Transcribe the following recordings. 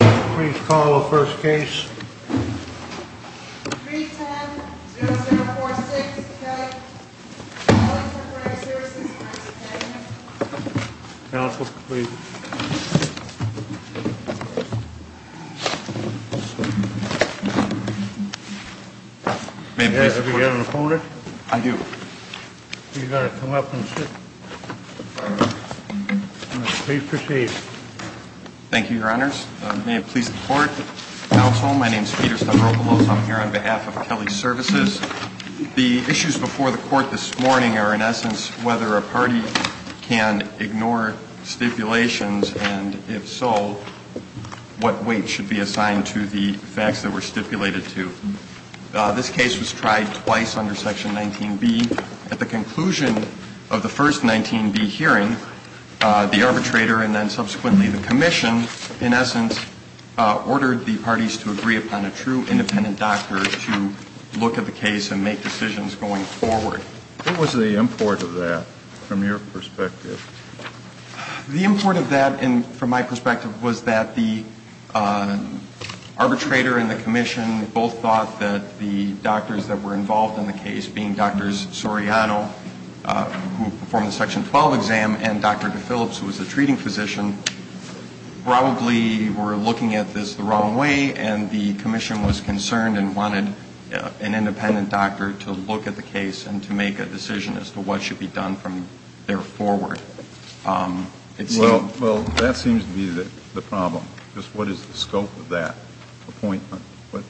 Please call the first case. 310-0046, Doug. Calling Temporary Services. Counsel, please. Have you got an opponent? I do. You've got to come up and sit. Please proceed. Thank you, Your Honors. May it please the Court. Counsel, my name is Peter Stokopoulos. I'm here on behalf of Kelly Services. The issues before the Court this morning are, in essence, whether a party can ignore stipulations and, if so, what weight should be assigned to the facts that were stipulated to. This case was tried twice under Section 19B. At the conclusion of the first 19B hearing, the arbitrator and then subsequently the commission, in essence, ordered the parties to agree upon a true independent doctor to look at the case and make decisions going forward. What was the import of that, from your perspective? The import of that, from my perspective, was that the arbitrator and the commission both thought that the doctors that were involved in the case, being Dr. Soriano, who performed the Section 12 exam, and Dr. DePhillips, who was the treating physician, probably were looking at this the wrong way, and the commission was concerned and wanted an independent doctor to look at the case and to make a decision as to what should be done from there forward. Well, that seems to be the problem. What is the scope of that appointment? Was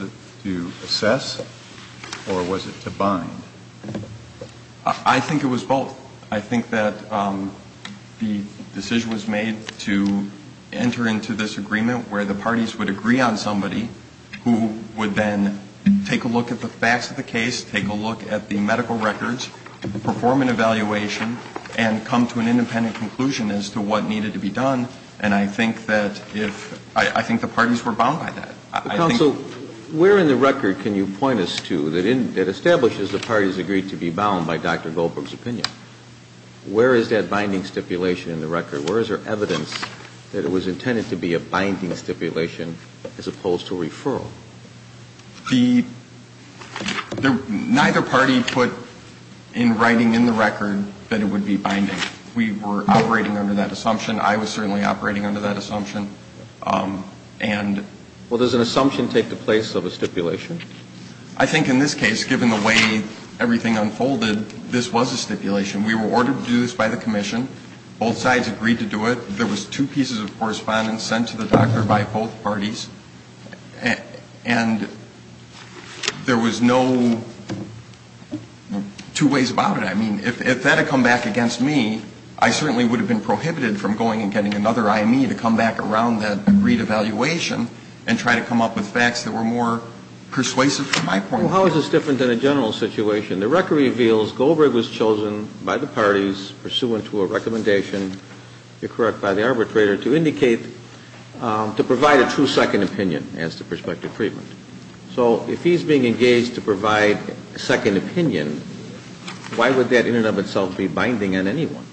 it to assess or was it to bind? I think it was both. I think that the decision was made to enter into this agreement where the parties would agree on somebody who would then take a look at the facts of the case, take a look at the medical records, perform an evaluation, and come to an independent conclusion as to what needed to be done, and I think that if the parties were bound by that. Counsel, where in the record can you point us to that establishes the parties agreed to be bound by Dr. Goldberg's opinion? Where is that binding stipulation in the record? Where is there evidence that it was intended to be a binding stipulation as opposed to a referral? Neither party put in writing in the record that it would be binding. We were operating under that assumption. I was certainly operating under that assumption. Well, does an assumption take the place of a stipulation? I think in this case, given the way everything unfolded, this was a stipulation. We were ordered to do this by the Commission. Both sides agreed to do it. There was two pieces of correspondence sent to the doctor by both parties, and there was no two ways about it. I mean, if that had come back against me, I certainly would have been prohibited from going and getting another IME to come back around that agreed evaluation and try to come up with facts that were more persuasive to my point of view. Well, how is this different than a general situation? The record reveals Goldberg was chosen by the parties, pursuant to a recommendation, you're correct, by the arbitrator, to indicate to provide a true second opinion as to prospective treatment. So if he's being engaged to provide a second opinion, why would that in and of itself be binding on anyone?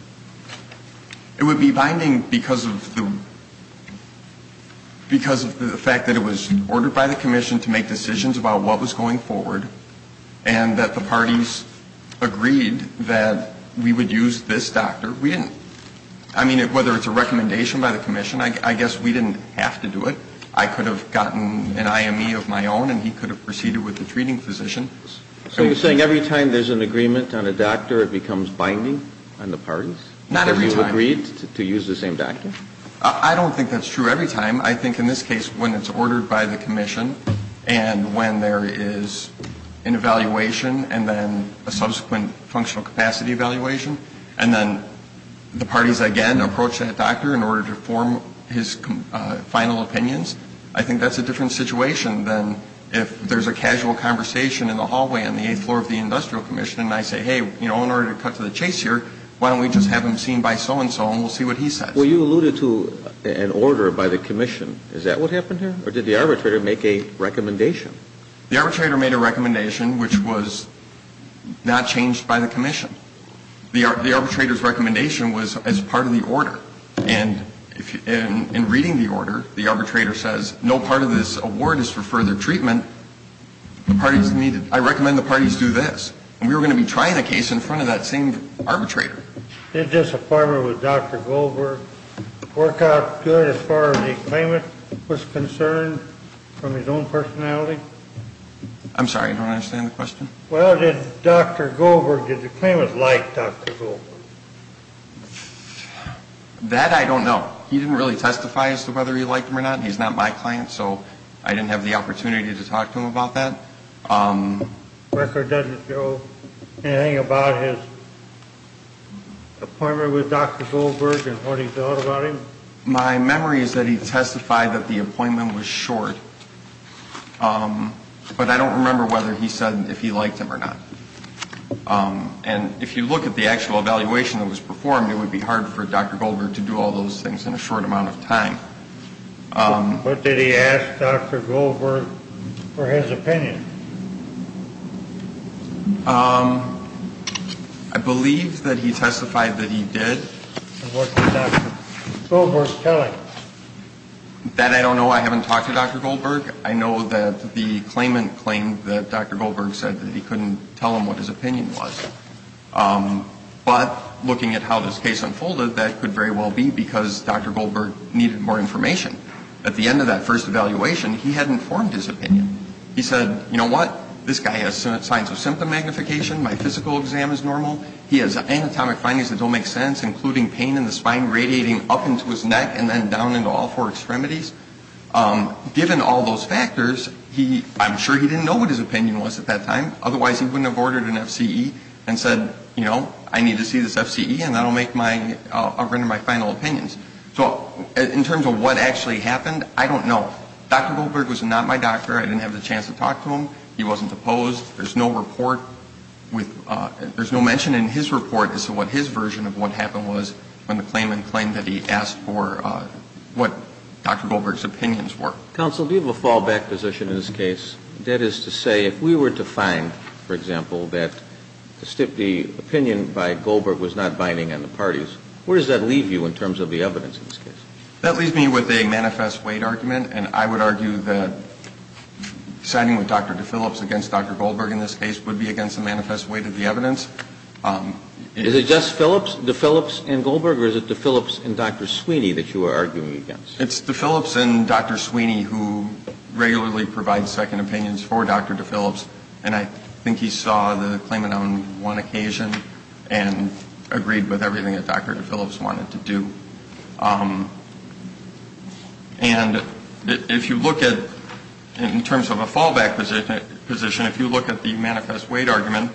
It would be binding because of the because of the fact that it was ordered by the Commission to make decisions about what was going forward and that the parties agreed that we would use this doctor. We didn't I mean, whether it's a recommendation by the Commission, I guess we didn't have to do it. I could have gotten an IME of my own, and he could have proceeded with the treating physician. So you're saying every time there's an agreement on a doctor, it becomes binding on the parties? Not every time. And you agreed to use the same doctor? I don't think that's true every time. I think in this case, when it's ordered by the Commission and when there is an evaluation and then a subsequent functional capacity evaluation and then the parties again approach that doctor in order to form his final opinions, I think that's a different situation than if there's a casual conversation in the hallway on the eighth floor of the house, and there's a run for it, and so on. So you're saying, in order to cut to the chase here, why don't we just have him seen by so and so, and we'll see what he says? Well, you alluded to an order by the Commission. Is that what happened here? Or did the arbitrator make a recommendation? The arbitrator made a recommendation which was not changed by the Commission. The arbitrator's recommendation was as part of the order. And in reading the order, the arbitrator says no part of this case in front of that same arbitrator. Did disappointment with Dr. Goldberg work out good as far as the claimant was concerned from his own personality? I'm sorry, I don't understand the question. Well, did Dr. Goldberg, did the claimant like Dr. Goldberg? That I don't know. He didn't really testify as to whether he liked him or not. He's not my client, so I didn't have the opportunity to talk to him about that. The record doesn't show anything about his appointment with Dr. Goldberg and what he thought about him? My memory is that he testified that the appointment was short. But I don't remember whether he said if he liked him or not. And if you look at the actual evaluation that was performed, it would be hard for Dr. Goldberg to do all those things in a short amount of time. But did he ask Dr. Goldberg for his opinion? I believe that he testified that he did. And what did Dr. Goldberg tell him? That I don't know. I haven't talked to Dr. Goldberg. I know that the claimant claimed that Dr. Goldberg said that he couldn't tell him what his opinion was. But looking at how this case unfolded, that could very well be because Dr. Goldberg needed more information. At the end of that first evaluation, he had informed his opinion. He said, you know what? This guy has signs of symptom magnification. My physical exam is normal. He has anatomic findings that don't make sense, including pain in the spine radiating up into his neck and then down into all four extremities. Given all those factors, I'm sure he didn't know what his opinion was at that time. Otherwise, he wouldn't have ordered an FCE and said, you know, I need to see this FCE and I'll render my final opinions. So in terms of what actually happened, I don't know. Dr. Goldberg was not my doctor. I didn't have the chance to talk to him. He wasn't opposed. There's no report with – there's no mention in his report as to what his version of what happened was when the claimant claimed that he asked for what Dr. Goldberg's opinions were. Counsel, do you have a fallback position in this case? That is to say, if we were to find, for example, that the opinion by Goldberg was not binding on the parties, where does that leave you in terms of the evidence in this case? That leaves me with a manifest weight argument, and I would argue that signing with Dr. DeFillips against Dr. Goldberg in this case would be against the manifest weight of the evidence. Is it just DeFillips and Goldberg, or is it DeFillips and Dr. Sweeney that you are arguing against? It's DeFillips and Dr. Sweeney who regularly provide second opinions for Dr. DeFillips, and I think he saw the claimant on one occasion and agreed with everything that Dr. DeFillips wanted to do. And if you look at, in terms of a fallback position, if you look at the manifest weight argument,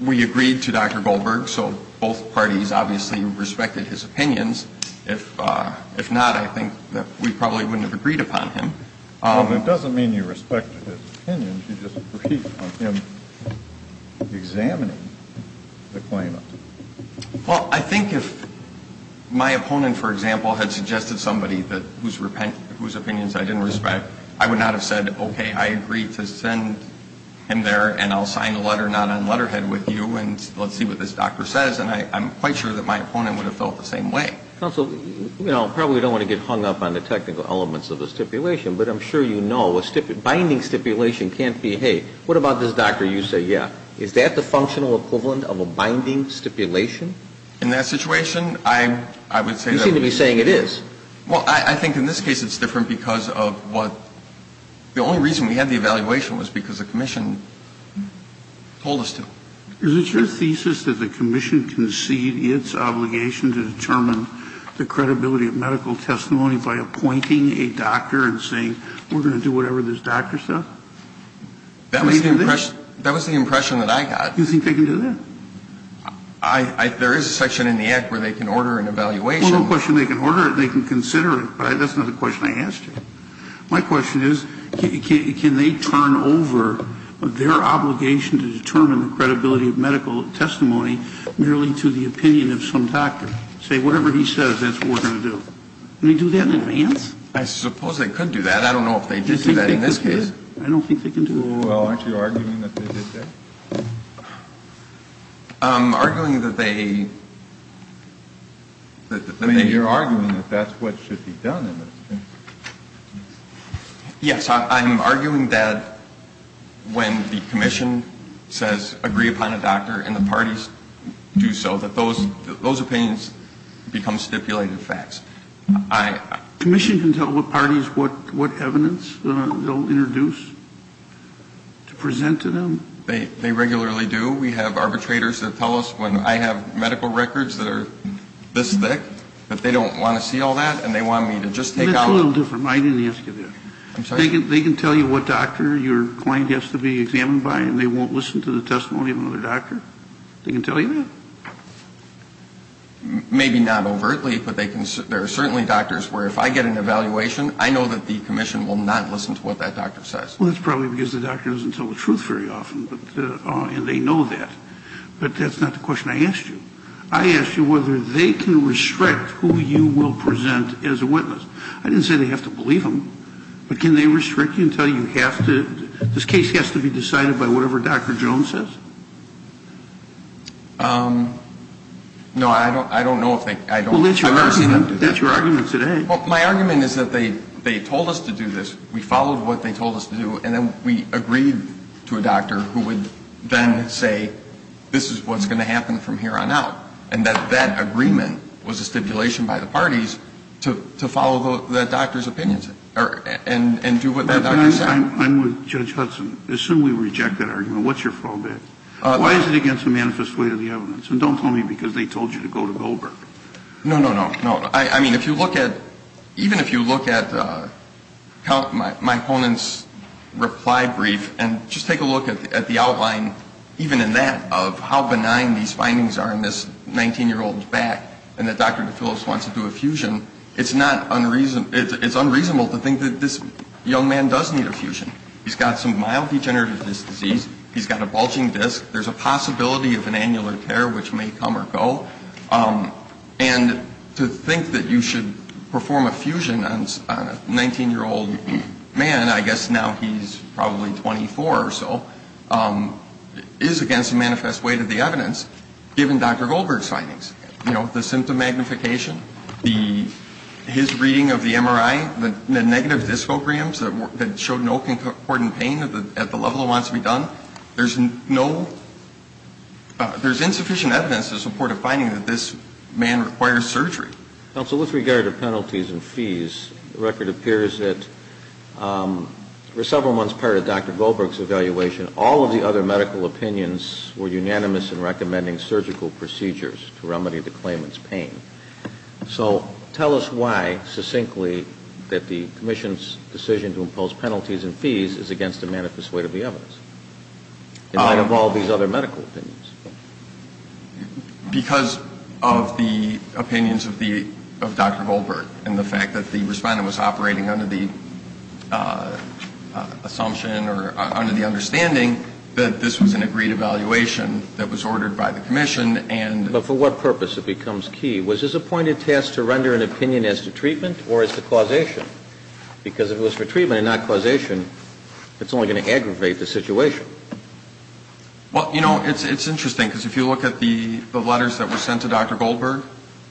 we agreed to Dr. Goldberg, so both parties obviously respected his opinions. If not, I think that we probably wouldn't have agreed upon him. It doesn't mean you respected his opinions, you just agreed on him examining the claimant. Well, I think if my opponent, for example, had suggested somebody whose opinions I didn't respect, I would not have said, okay, I agree to send him there and I'll sign a letter not on letterhead with you and let's see what this doctor says, and I'm quite sure that my opponent would have felt the same way. Counsel, you know, I probably don't want to get hung up on the technical elements of a stipulation, but I'm sure you know a binding stipulation can't be, hey, what about this doctor? You say, yeah. Is that the functional equivalent of a binding stipulation? In that situation, I would say that. You seem to be saying it is. Well, I think in this case it's different because of what the only reason we had the evaluation was because the commission told us to. Is it your thesis that the commission concede its obligation to determine the credibility of medical testimony by appointing a doctor and saying we're going to do whatever this doctor says? That was the impression that I got. You think they can do that? There is a section in the Act where they can order an evaluation. Well, no question they can order it, they can consider it, but that's not the question I asked you. My question is, can they turn over their obligation to determine the credibility of medical testimony merely to the opinion of some doctor, say whatever he says that's what we're going to do? Can they do that in advance? I suppose they could do that. I don't know if they could do that in this case. I don't think they can do it. Well, aren't you arguing that they did that? I'm arguing that they... You're arguing that that's what should be done in this case. I don't know if you're arguing I'm arguing that's what should be done in this case. I'm arguing that's what should be done in this case. I'm arguing that they should be asked to do so, that those opinions become stipulated facts. Commission can tell what parties what evidence they'll introduce to present to them? They regularly do. We have arbitrators that tell us when I have medical records that are this thick that they don't want to see all that and they want me to just take out... That's a little different. I didn't ask you that. I'm sorry? They can tell you what doctor your client has to be examined by and they won't listen to the testimony of another doctor? They can tell you that? Maybe not overtly, but there are certainly doctors where if I get an evaluation, I know that the commission will not listen to what that doctor says. Well, that's probably because the doctor doesn't tell the truth very often and they know that. But that's not the question I asked you. I asked you whether they can restrict who you will present as a witness. I didn't say they have to believe them. But can they restrict you until you have to? This case has to be decided by whatever Dr. Jones says? No, I don't know if they... That's your argument today. My argument is that they told us to do this. We followed what they told us to do and then we agreed to a doctor who would then say this is what's going to happen from here on out. And that that agreement was a stipulation by the parties to follow the doctor's opinions and do what that doctor said. I'm with Judge Hudson. Assume we reject that argument. What's your fallback? Why is it against the manifest way of the evidence? And don't tell me because they told you to go to Goldberg. No, no, no. No. I mean, if you look at, even if you look at my opponent's reply brief and just take a look at the outline, even in that, of how benign these findings are in this 19-year-old's back and that Dr. DeFillis wants to do a fusion, it's unreasonable to think that this young man does need a fusion. He's got some mild degenerative disc disease. He's got a bulging disc. There's a possibility of an annular tear which may come or go. And to think that you should perform a fusion on a 19-year-old man, I guess now he's probably 24 or so, is against the manifest way to the evidence given Dr. Goldberg's findings. You know, the symptom magnification, his reading of the MRI, the negative discograms that showed no concordant pain at the level it wants to be done. There's insufficient evidence to support a finding that this man requires surgery. Counsel, with regard to penalties and fees, the record appears that for several months prior to Dr. Goldberg's evaluation, all of the other medical opinions were unanimous in recommending surgical procedures to remedy the claimant's pain. So tell us why, succinctly, that the commission's decision to impose penalties and fees is against the manifest way to the evidence. In light of all these other medical opinions. Because of the opinions of Dr. Goldberg and the fact that the respondent was operating under the assumption or under the understanding that this was an agreed evaluation that was ordered by the commission, and the But for what purpose? It becomes key. Was his appointed task to render an opinion as to treatment or as to causation? Because if it was for treatment and not causation, it's only going to aggravate the situation. Well, you know, it's interesting. Because if you look at the letters that were sent to Dr. Goldberg,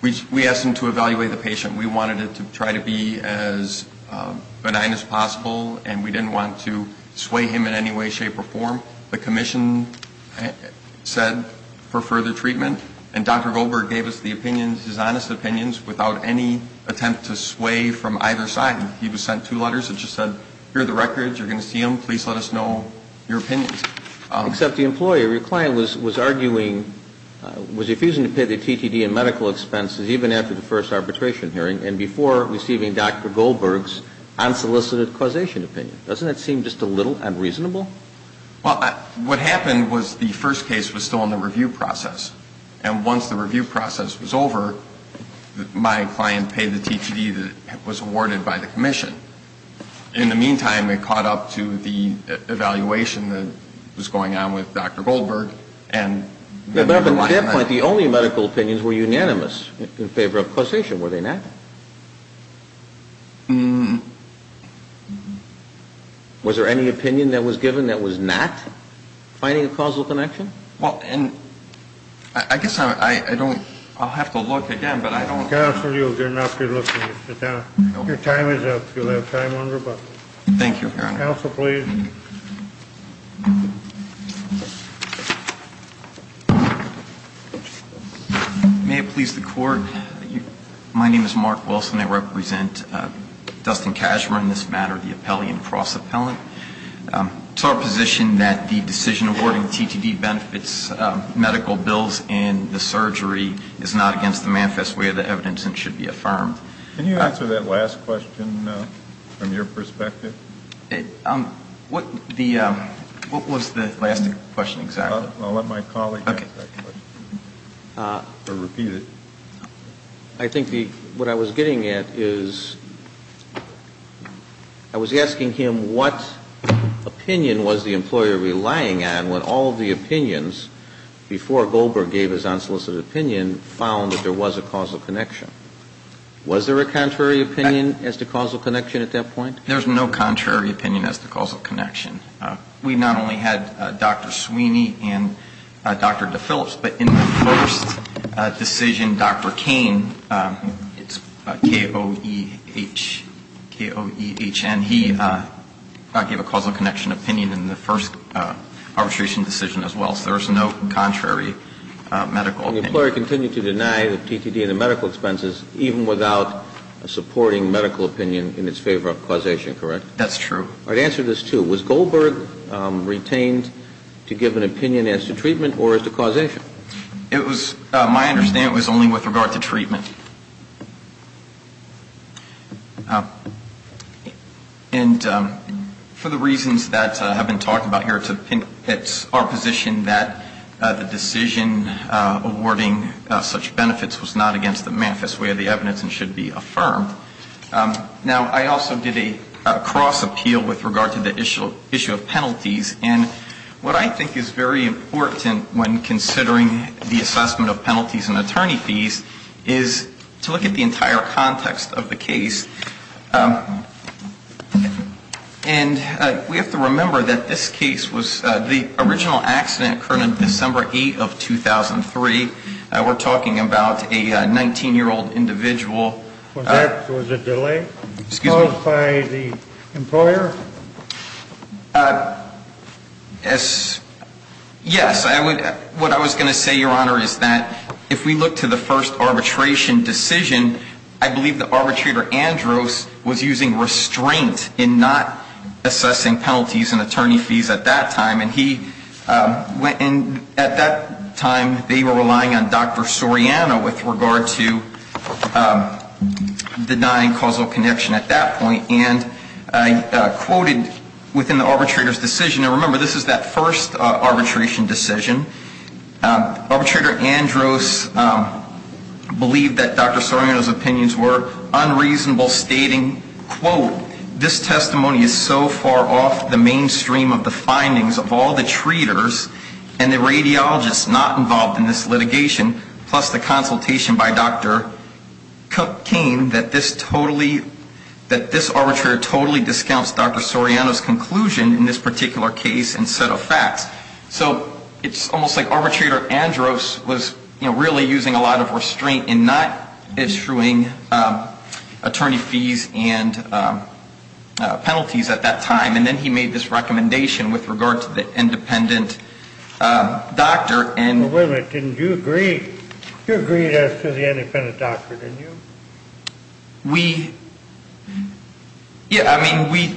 we asked him to evaluate the patient. We wanted it to try to be as benign as possible. And we didn't want to sway him in any way, shape, or form. The commission said for further treatment. And Dr. Goldberg gave us the opinions, his honest opinions, without any attempt to sway from either side. He just sent two letters that just said, here are the records. You're going to see them. Please let us know your opinions. Except the employer. Your client was arguing, was refusing to pay the TTD and medical expenses even after the first arbitration hearing and before receiving Dr. Goldberg's unsolicited causation opinion. Doesn't that seem just a little unreasonable? Well, what happened was the first case was still in the review process. And once the review process was over, my client paid the TTD that was awarded by the commission. In the meantime, it caught up to the evaluation that was going on with Dr. Goldberg. But up until that point, the only medical opinions were unanimous in favor of causation, were they not? Was there any opinion that was given that was not finding a causal connection? Well, and I guess I don't – I'll have to look again, but I don't – Counsel, you're not good looking. Sit down. Your time is up. You'll have time on rebuttal. Thank you, Your Honor. Counsel, please. May it please the Court. My name is Mark Wilson. I represent Dustin Cashmore in this matter, the Appellee and Cross-Appellant. It's our position that the decision awarding TTD benefits, medical bills, and the surgery is not against the manifest way of the evidence and should be affirmed. Can you answer that last question from your perspective? What the – what was the last question exactly? I'll let my colleague answer that question. Or repeat it. I think the – what I was getting at is I was asking him what opinion was the employer relying on when all of the opinions before Goldberg gave his unsolicited opinion found that there was a causal connection. Was there a contrary opinion as to causal connection at that point? There's no contrary opinion as to causal connection. We not only had Dr. Sweeney and Dr. DePhillips, but in the first decision, Dr. Cain, it's K-O-E-H, K-O-E-H-N, he gave a causal connection opinion in the first arbitration decision as well. So there's no contrary medical opinion. The employer continued to deny the TTD and the medical expenses even without supporting medical opinion in its favor of causation, correct? That's true. I'd answer this too. Was Goldberg retained to give an opinion as to treatment or as to causation? It was – my understanding was only with regard to treatment. And for the reasons that have been talked about here, it's our position that the decision awarding such benefits was not against the manifest way of the evidence and should be affirmed. Now, I also did a cross appeal with regard to the issue of penalties. And what I think is very important when considering the assessment of penalties and attorney fees is to look at the entire context of the case. And we have to remember that this case was – the original accident occurred on December 8 of 2003. We're talking about a 19-year-old individual. Was there a delay caused by the employer? Yes. What I was going to say, Your Honor, is that if we look to the first arbitration decision, I believe the arbitrator, Andros, was using restraint in not assessing penalties and attorney fees at that time. And at that time, they were relying on Dr. Soriano with regard to denying causal connection at that point. And I quoted within the arbitrator's decision – and remember, this is that first arbitration decision. Arbitrator Andros believed that Dr. Soriano's opinions were unreasonable, stating, quote, this testimony is so far off the mainstream of the findings of all the treaters and the radiologists not involved in this litigation, plus the consultation by Dr. Cain, that this arbitrator totally discounts Dr. Soriano's conclusion in this particular case and set of facts. So it's almost like arbitrator Andros was really using a lot of restraint in not issuing attorney fees and penalties at that time. And then he made this recommendation with regard to the independent doctor. Wait a minute. Didn't you agree? You agreed as to the independent doctor, didn't you? We – yeah, I mean, we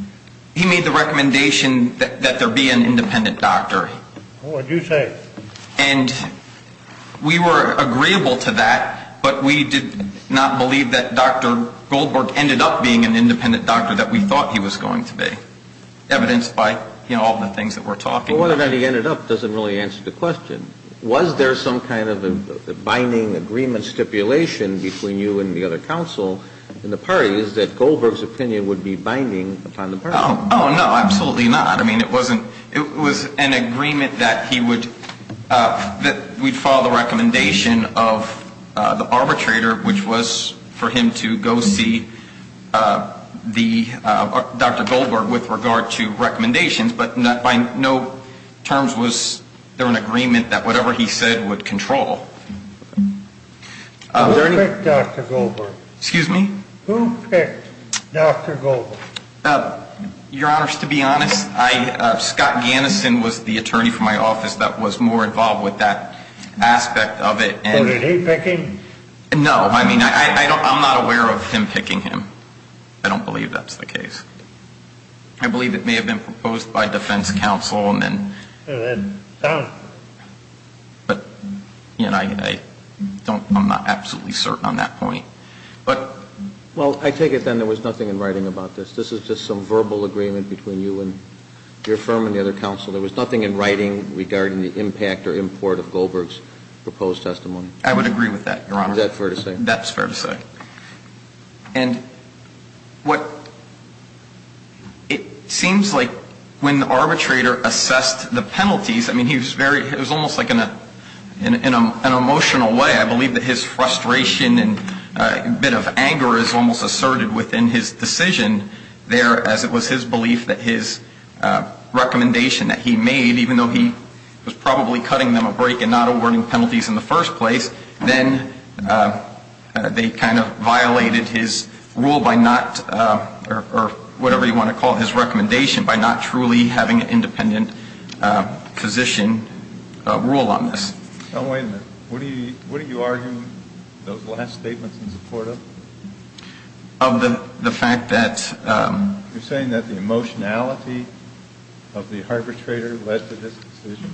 – he made the recommendation that there be an independent doctor. What would you say? And we were agreeable to that, but we did not believe that Dr. Goldberg ended up being an independent doctor that we thought he was going to be, evidenced by, you know, all the things that we're talking about. Well, whether or not he ended up doesn't really answer the question. Was there some kind of a binding agreement stipulation between you and the other counsel in the parties that Goldberg's opinion would be binding upon the parties? Oh, no, absolutely not. I mean, it wasn't – it was an agreement that he would – that we'd follow the recommendation of the arbitrator, which was for him to go see the – Dr. Goldberg with regard to recommendations, but by no terms was there an agreement that whatever he said would control. Who picked Dr. Goldberg? Excuse me? Who picked Dr. Goldberg? Your Honors, to be honest, I – Scott Gannison was the attorney for my office that was more involved with that aspect of it. So did he pick him? No, I mean, I don't – I'm not aware of him picking him. I don't believe that's the case. I believe it may have been proposed by defense counsel and then – I don't – But, you know, I don't – I'm not absolutely certain on that point. But – Well, I take it then there was nothing in writing about this. This is just some verbal agreement between you and your firm and the other counsel. There was nothing in writing regarding the impact or import of Goldberg's proposed testimony. I would agree with that, Your Honor. Is that fair to say? That's fair to say. And what – it seems like when the arbitrator assessed the penalties, I mean, he was very – it was almost like in an emotional way. I believe that his frustration and a bit of anger is almost asserted within his decision there, as it was his belief that his recommendation that he made, even though he was probably cutting them a break and not awarding penalties in the first place, then they kind of violated his rule by not – or whatever you want to call his recommendation – by not truly having an independent position rule on this. Now, wait a minute. What are you arguing those last statements in support of? Of the fact that – You're saying that the emotionality of the arbitrator led to this decision.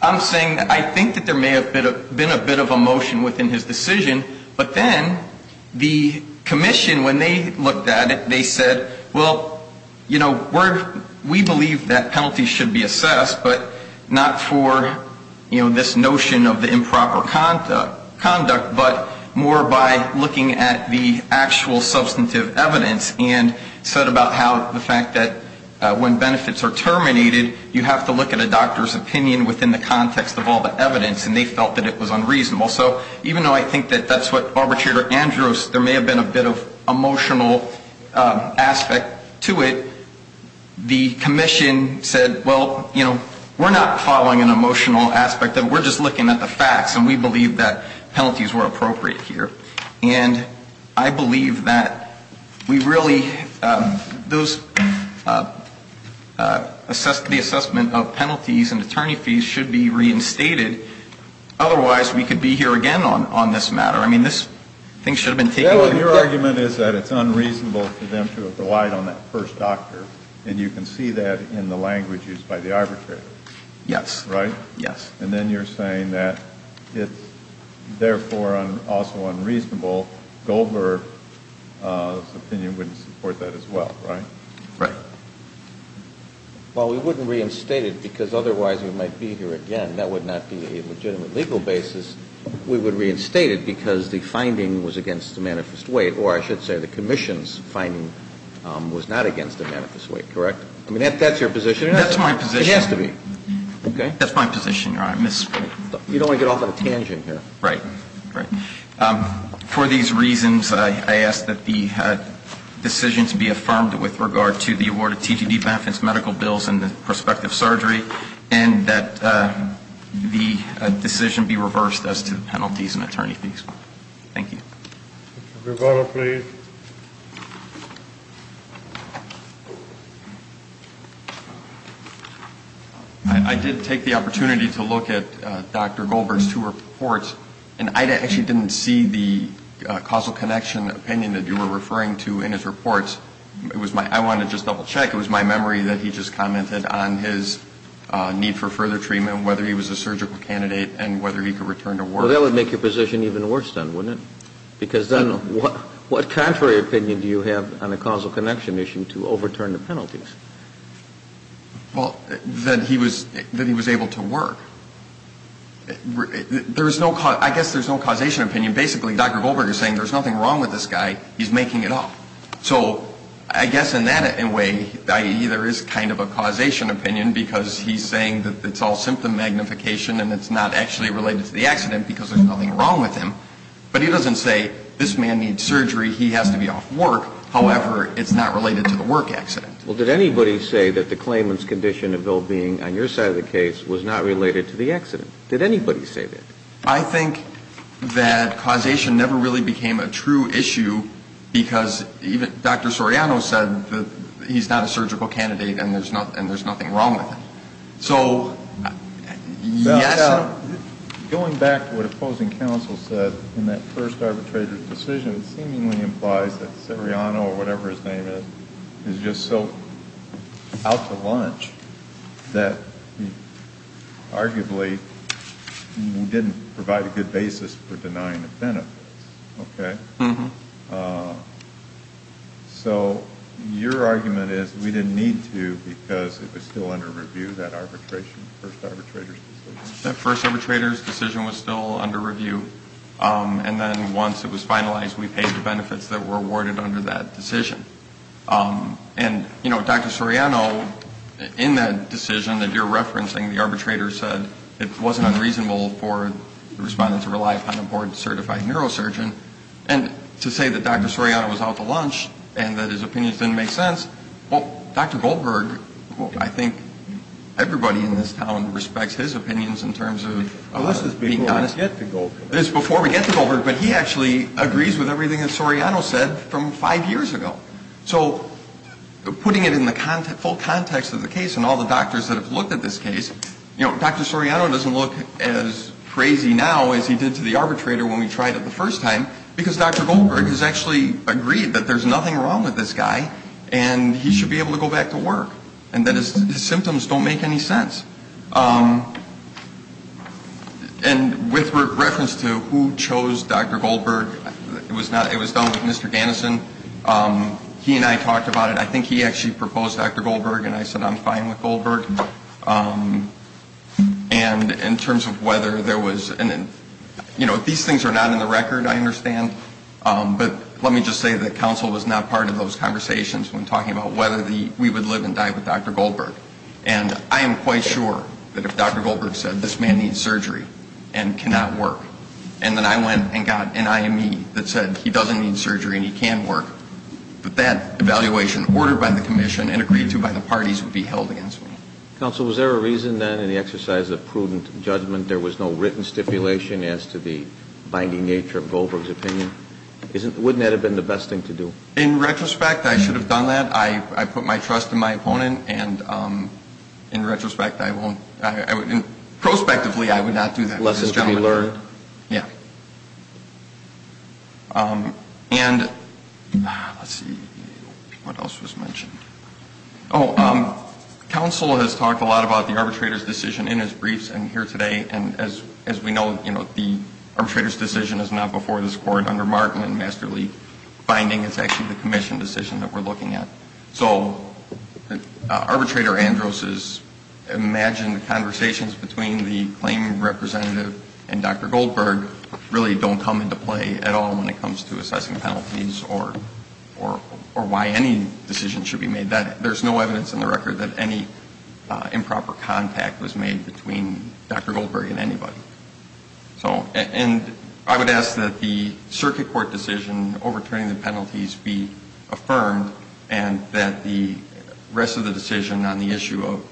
I'm saying that I think that there may have been a bit of emotion within his decision, but then the commission, when they looked at it, they said, well, you know, we believe that penalties should be assessed, but not for, you know, this notion of the improper conduct, but more by looking at the actual substantive evidence and said about how the fact that when benefits are terminated, you have to look at a doctor's opinion within the context of all the evidence, and they felt that it was unreasonable. So even though I think that that's what Arbitrator Andrews – there may have been a bit of emotional aspect to it, the commission said, well, you know, we're not following an emotional aspect of it. We're just looking at the facts, and we believe that penalties were appropriate here. And I believe that we really – those – the assessment of penalties and attorney fees should be reinstated. Otherwise, we could be here again on this matter. I mean, this thing should have been taken – Well, your argument is that it's unreasonable for them to have relied on that first doctor, and you can see that in the language used by the arbitrator. Yes. Right? Yes. And then you're saying that it's therefore also unreasonable. Goldberg's opinion wouldn't support that as well, right? Right. Well, we wouldn't reinstate it because otherwise we might be here again. That would not be a legitimate legal basis. We would reinstate it because the finding was against the manifest weight, or I should say the commission's finding was not against the manifest weight, correct? I mean, that's your position or not? That's my position. It has to be. Okay. That's my position, Your Honor. You don't want to get off on a tangent here. Right. Right. For these reasons, I ask that the decision to be affirmed with regard to the award of TPD benefits, medical bills, and the prospective surgery, and that the decision be reversed as to penalties and attorney fees. Thank you. Mr. Grigoro, please. I did take the opportunity to look at Dr. Goldberg's two reports, and I actually didn't see the causal connection opinion that you were referring to in his reports. I wanted to just double check. It was my memory that he just commented on his need for further treatment, whether he was a surgical candidate, and whether he could return to work. Well, that would make your position even worse then, wouldn't it? I don't know. Because then what contrary opinion do you have on the causal connection issue to overturn the penalties? Well, that he was able to work. I guess there's no causation opinion. Basically, Dr. Goldberg is saying there's nothing wrong with this guy. He's making it up. So I guess in that way there is kind of a causation opinion, because he's saying that it's all symptom magnification and it's not actually related to the accident because there's nothing wrong with him. But he doesn't say this man needs surgery, he has to be off work. However, it's not related to the work accident. Well, did anybody say that the claimant's condition of well-being on your side of the case was not related to the accident? Did anybody say that? I think that causation never really became a true issue, because even Dr. Soriano said that he's not a surgical candidate and there's nothing wrong with him. Going back to what opposing counsel said in that first arbitrator's decision, it seemingly implies that Soriano, or whatever his name is, is just so out to lunch that he arguably didn't provide a good basis for denying the benefits. So your argument is we didn't need to because it was still under review, that arbitration, that first arbitrator's decision? That first arbitrator's decision was still under review, and then once it was finalized we paid the benefits that were awarded under that decision. And Dr. Soriano, in that decision that you're referencing, the arbitrator said it wasn't unreasonable for the respondent to rely upon a board-certified neurosurgeon. And to say that Dr. Soriano was out to lunch and that his opinions didn't make sense, well, Dr. Goldberg, I think everybody in this town respects his opinions in terms of being honest. Unless it's before we get to Goldberg. It's before we get to Goldberg, but he actually agrees with everything that Soriano said from five years ago. So putting it in the full context of the case and all the doctors that have looked at this case, you know, Dr. Soriano doesn't look as crazy now as he did to the arbitrator when we tried it the first time because Dr. Goldberg has actually agreed that there's nothing wrong with this guy and he should be able to go back to work and that his symptoms don't make any sense. And with reference to who chose Dr. Goldberg, it was done with Mr. Gannison. He and I talked about it. I think he actually proposed Dr. Goldberg and I said I'm fine with Goldberg. And in terms of whether there was an, you know, these things are not in the record, I understand, but let me just say that counsel was not part of those conversations when talking about whether we would live and die with Dr. Goldberg. And I am quite sure that if Dr. Goldberg said this man needs surgery and cannot work, and then I went and got an IME that said he doesn't need surgery and he can work, that that evaluation ordered by the commission and agreed to by the parties would be held against me. Counsel, was there a reason then in the exercise of prudent judgment there was no written stipulation as to the binding nature of Goldberg's opinion? Wouldn't that have been the best thing to do? In retrospect, I should have done that. I put my trust in my opponent, and in retrospect, I won't. Prospectively, I would not do that. Lessons to be learned. Yeah. And, let's see, what else was mentioned? Oh, counsel has talked a lot about the arbitrator's decision in his briefs and here today, and as we know, you know, the arbitrator's decision is not before this Court under Markman and Masterly Binding. It's actually the commission decision that we're looking at. So arbitrator Andros' imagined conversations between the claim representative and Dr. Goldberg really don't come into play at all when it comes to assessing penalties or why any decision should be made. There's no evidence in the record that any improper contact was made between Dr. Goldberg and anybody. And I would ask that the circuit court decision overturning the penalties be affirmed and that the rest of the decision on the issue of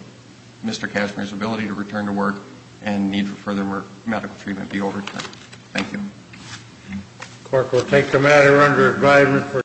Mr. Cashmere's ability to return to work and need for further medical treatment be overturned. Thank you. The Court will take the matter under advisement.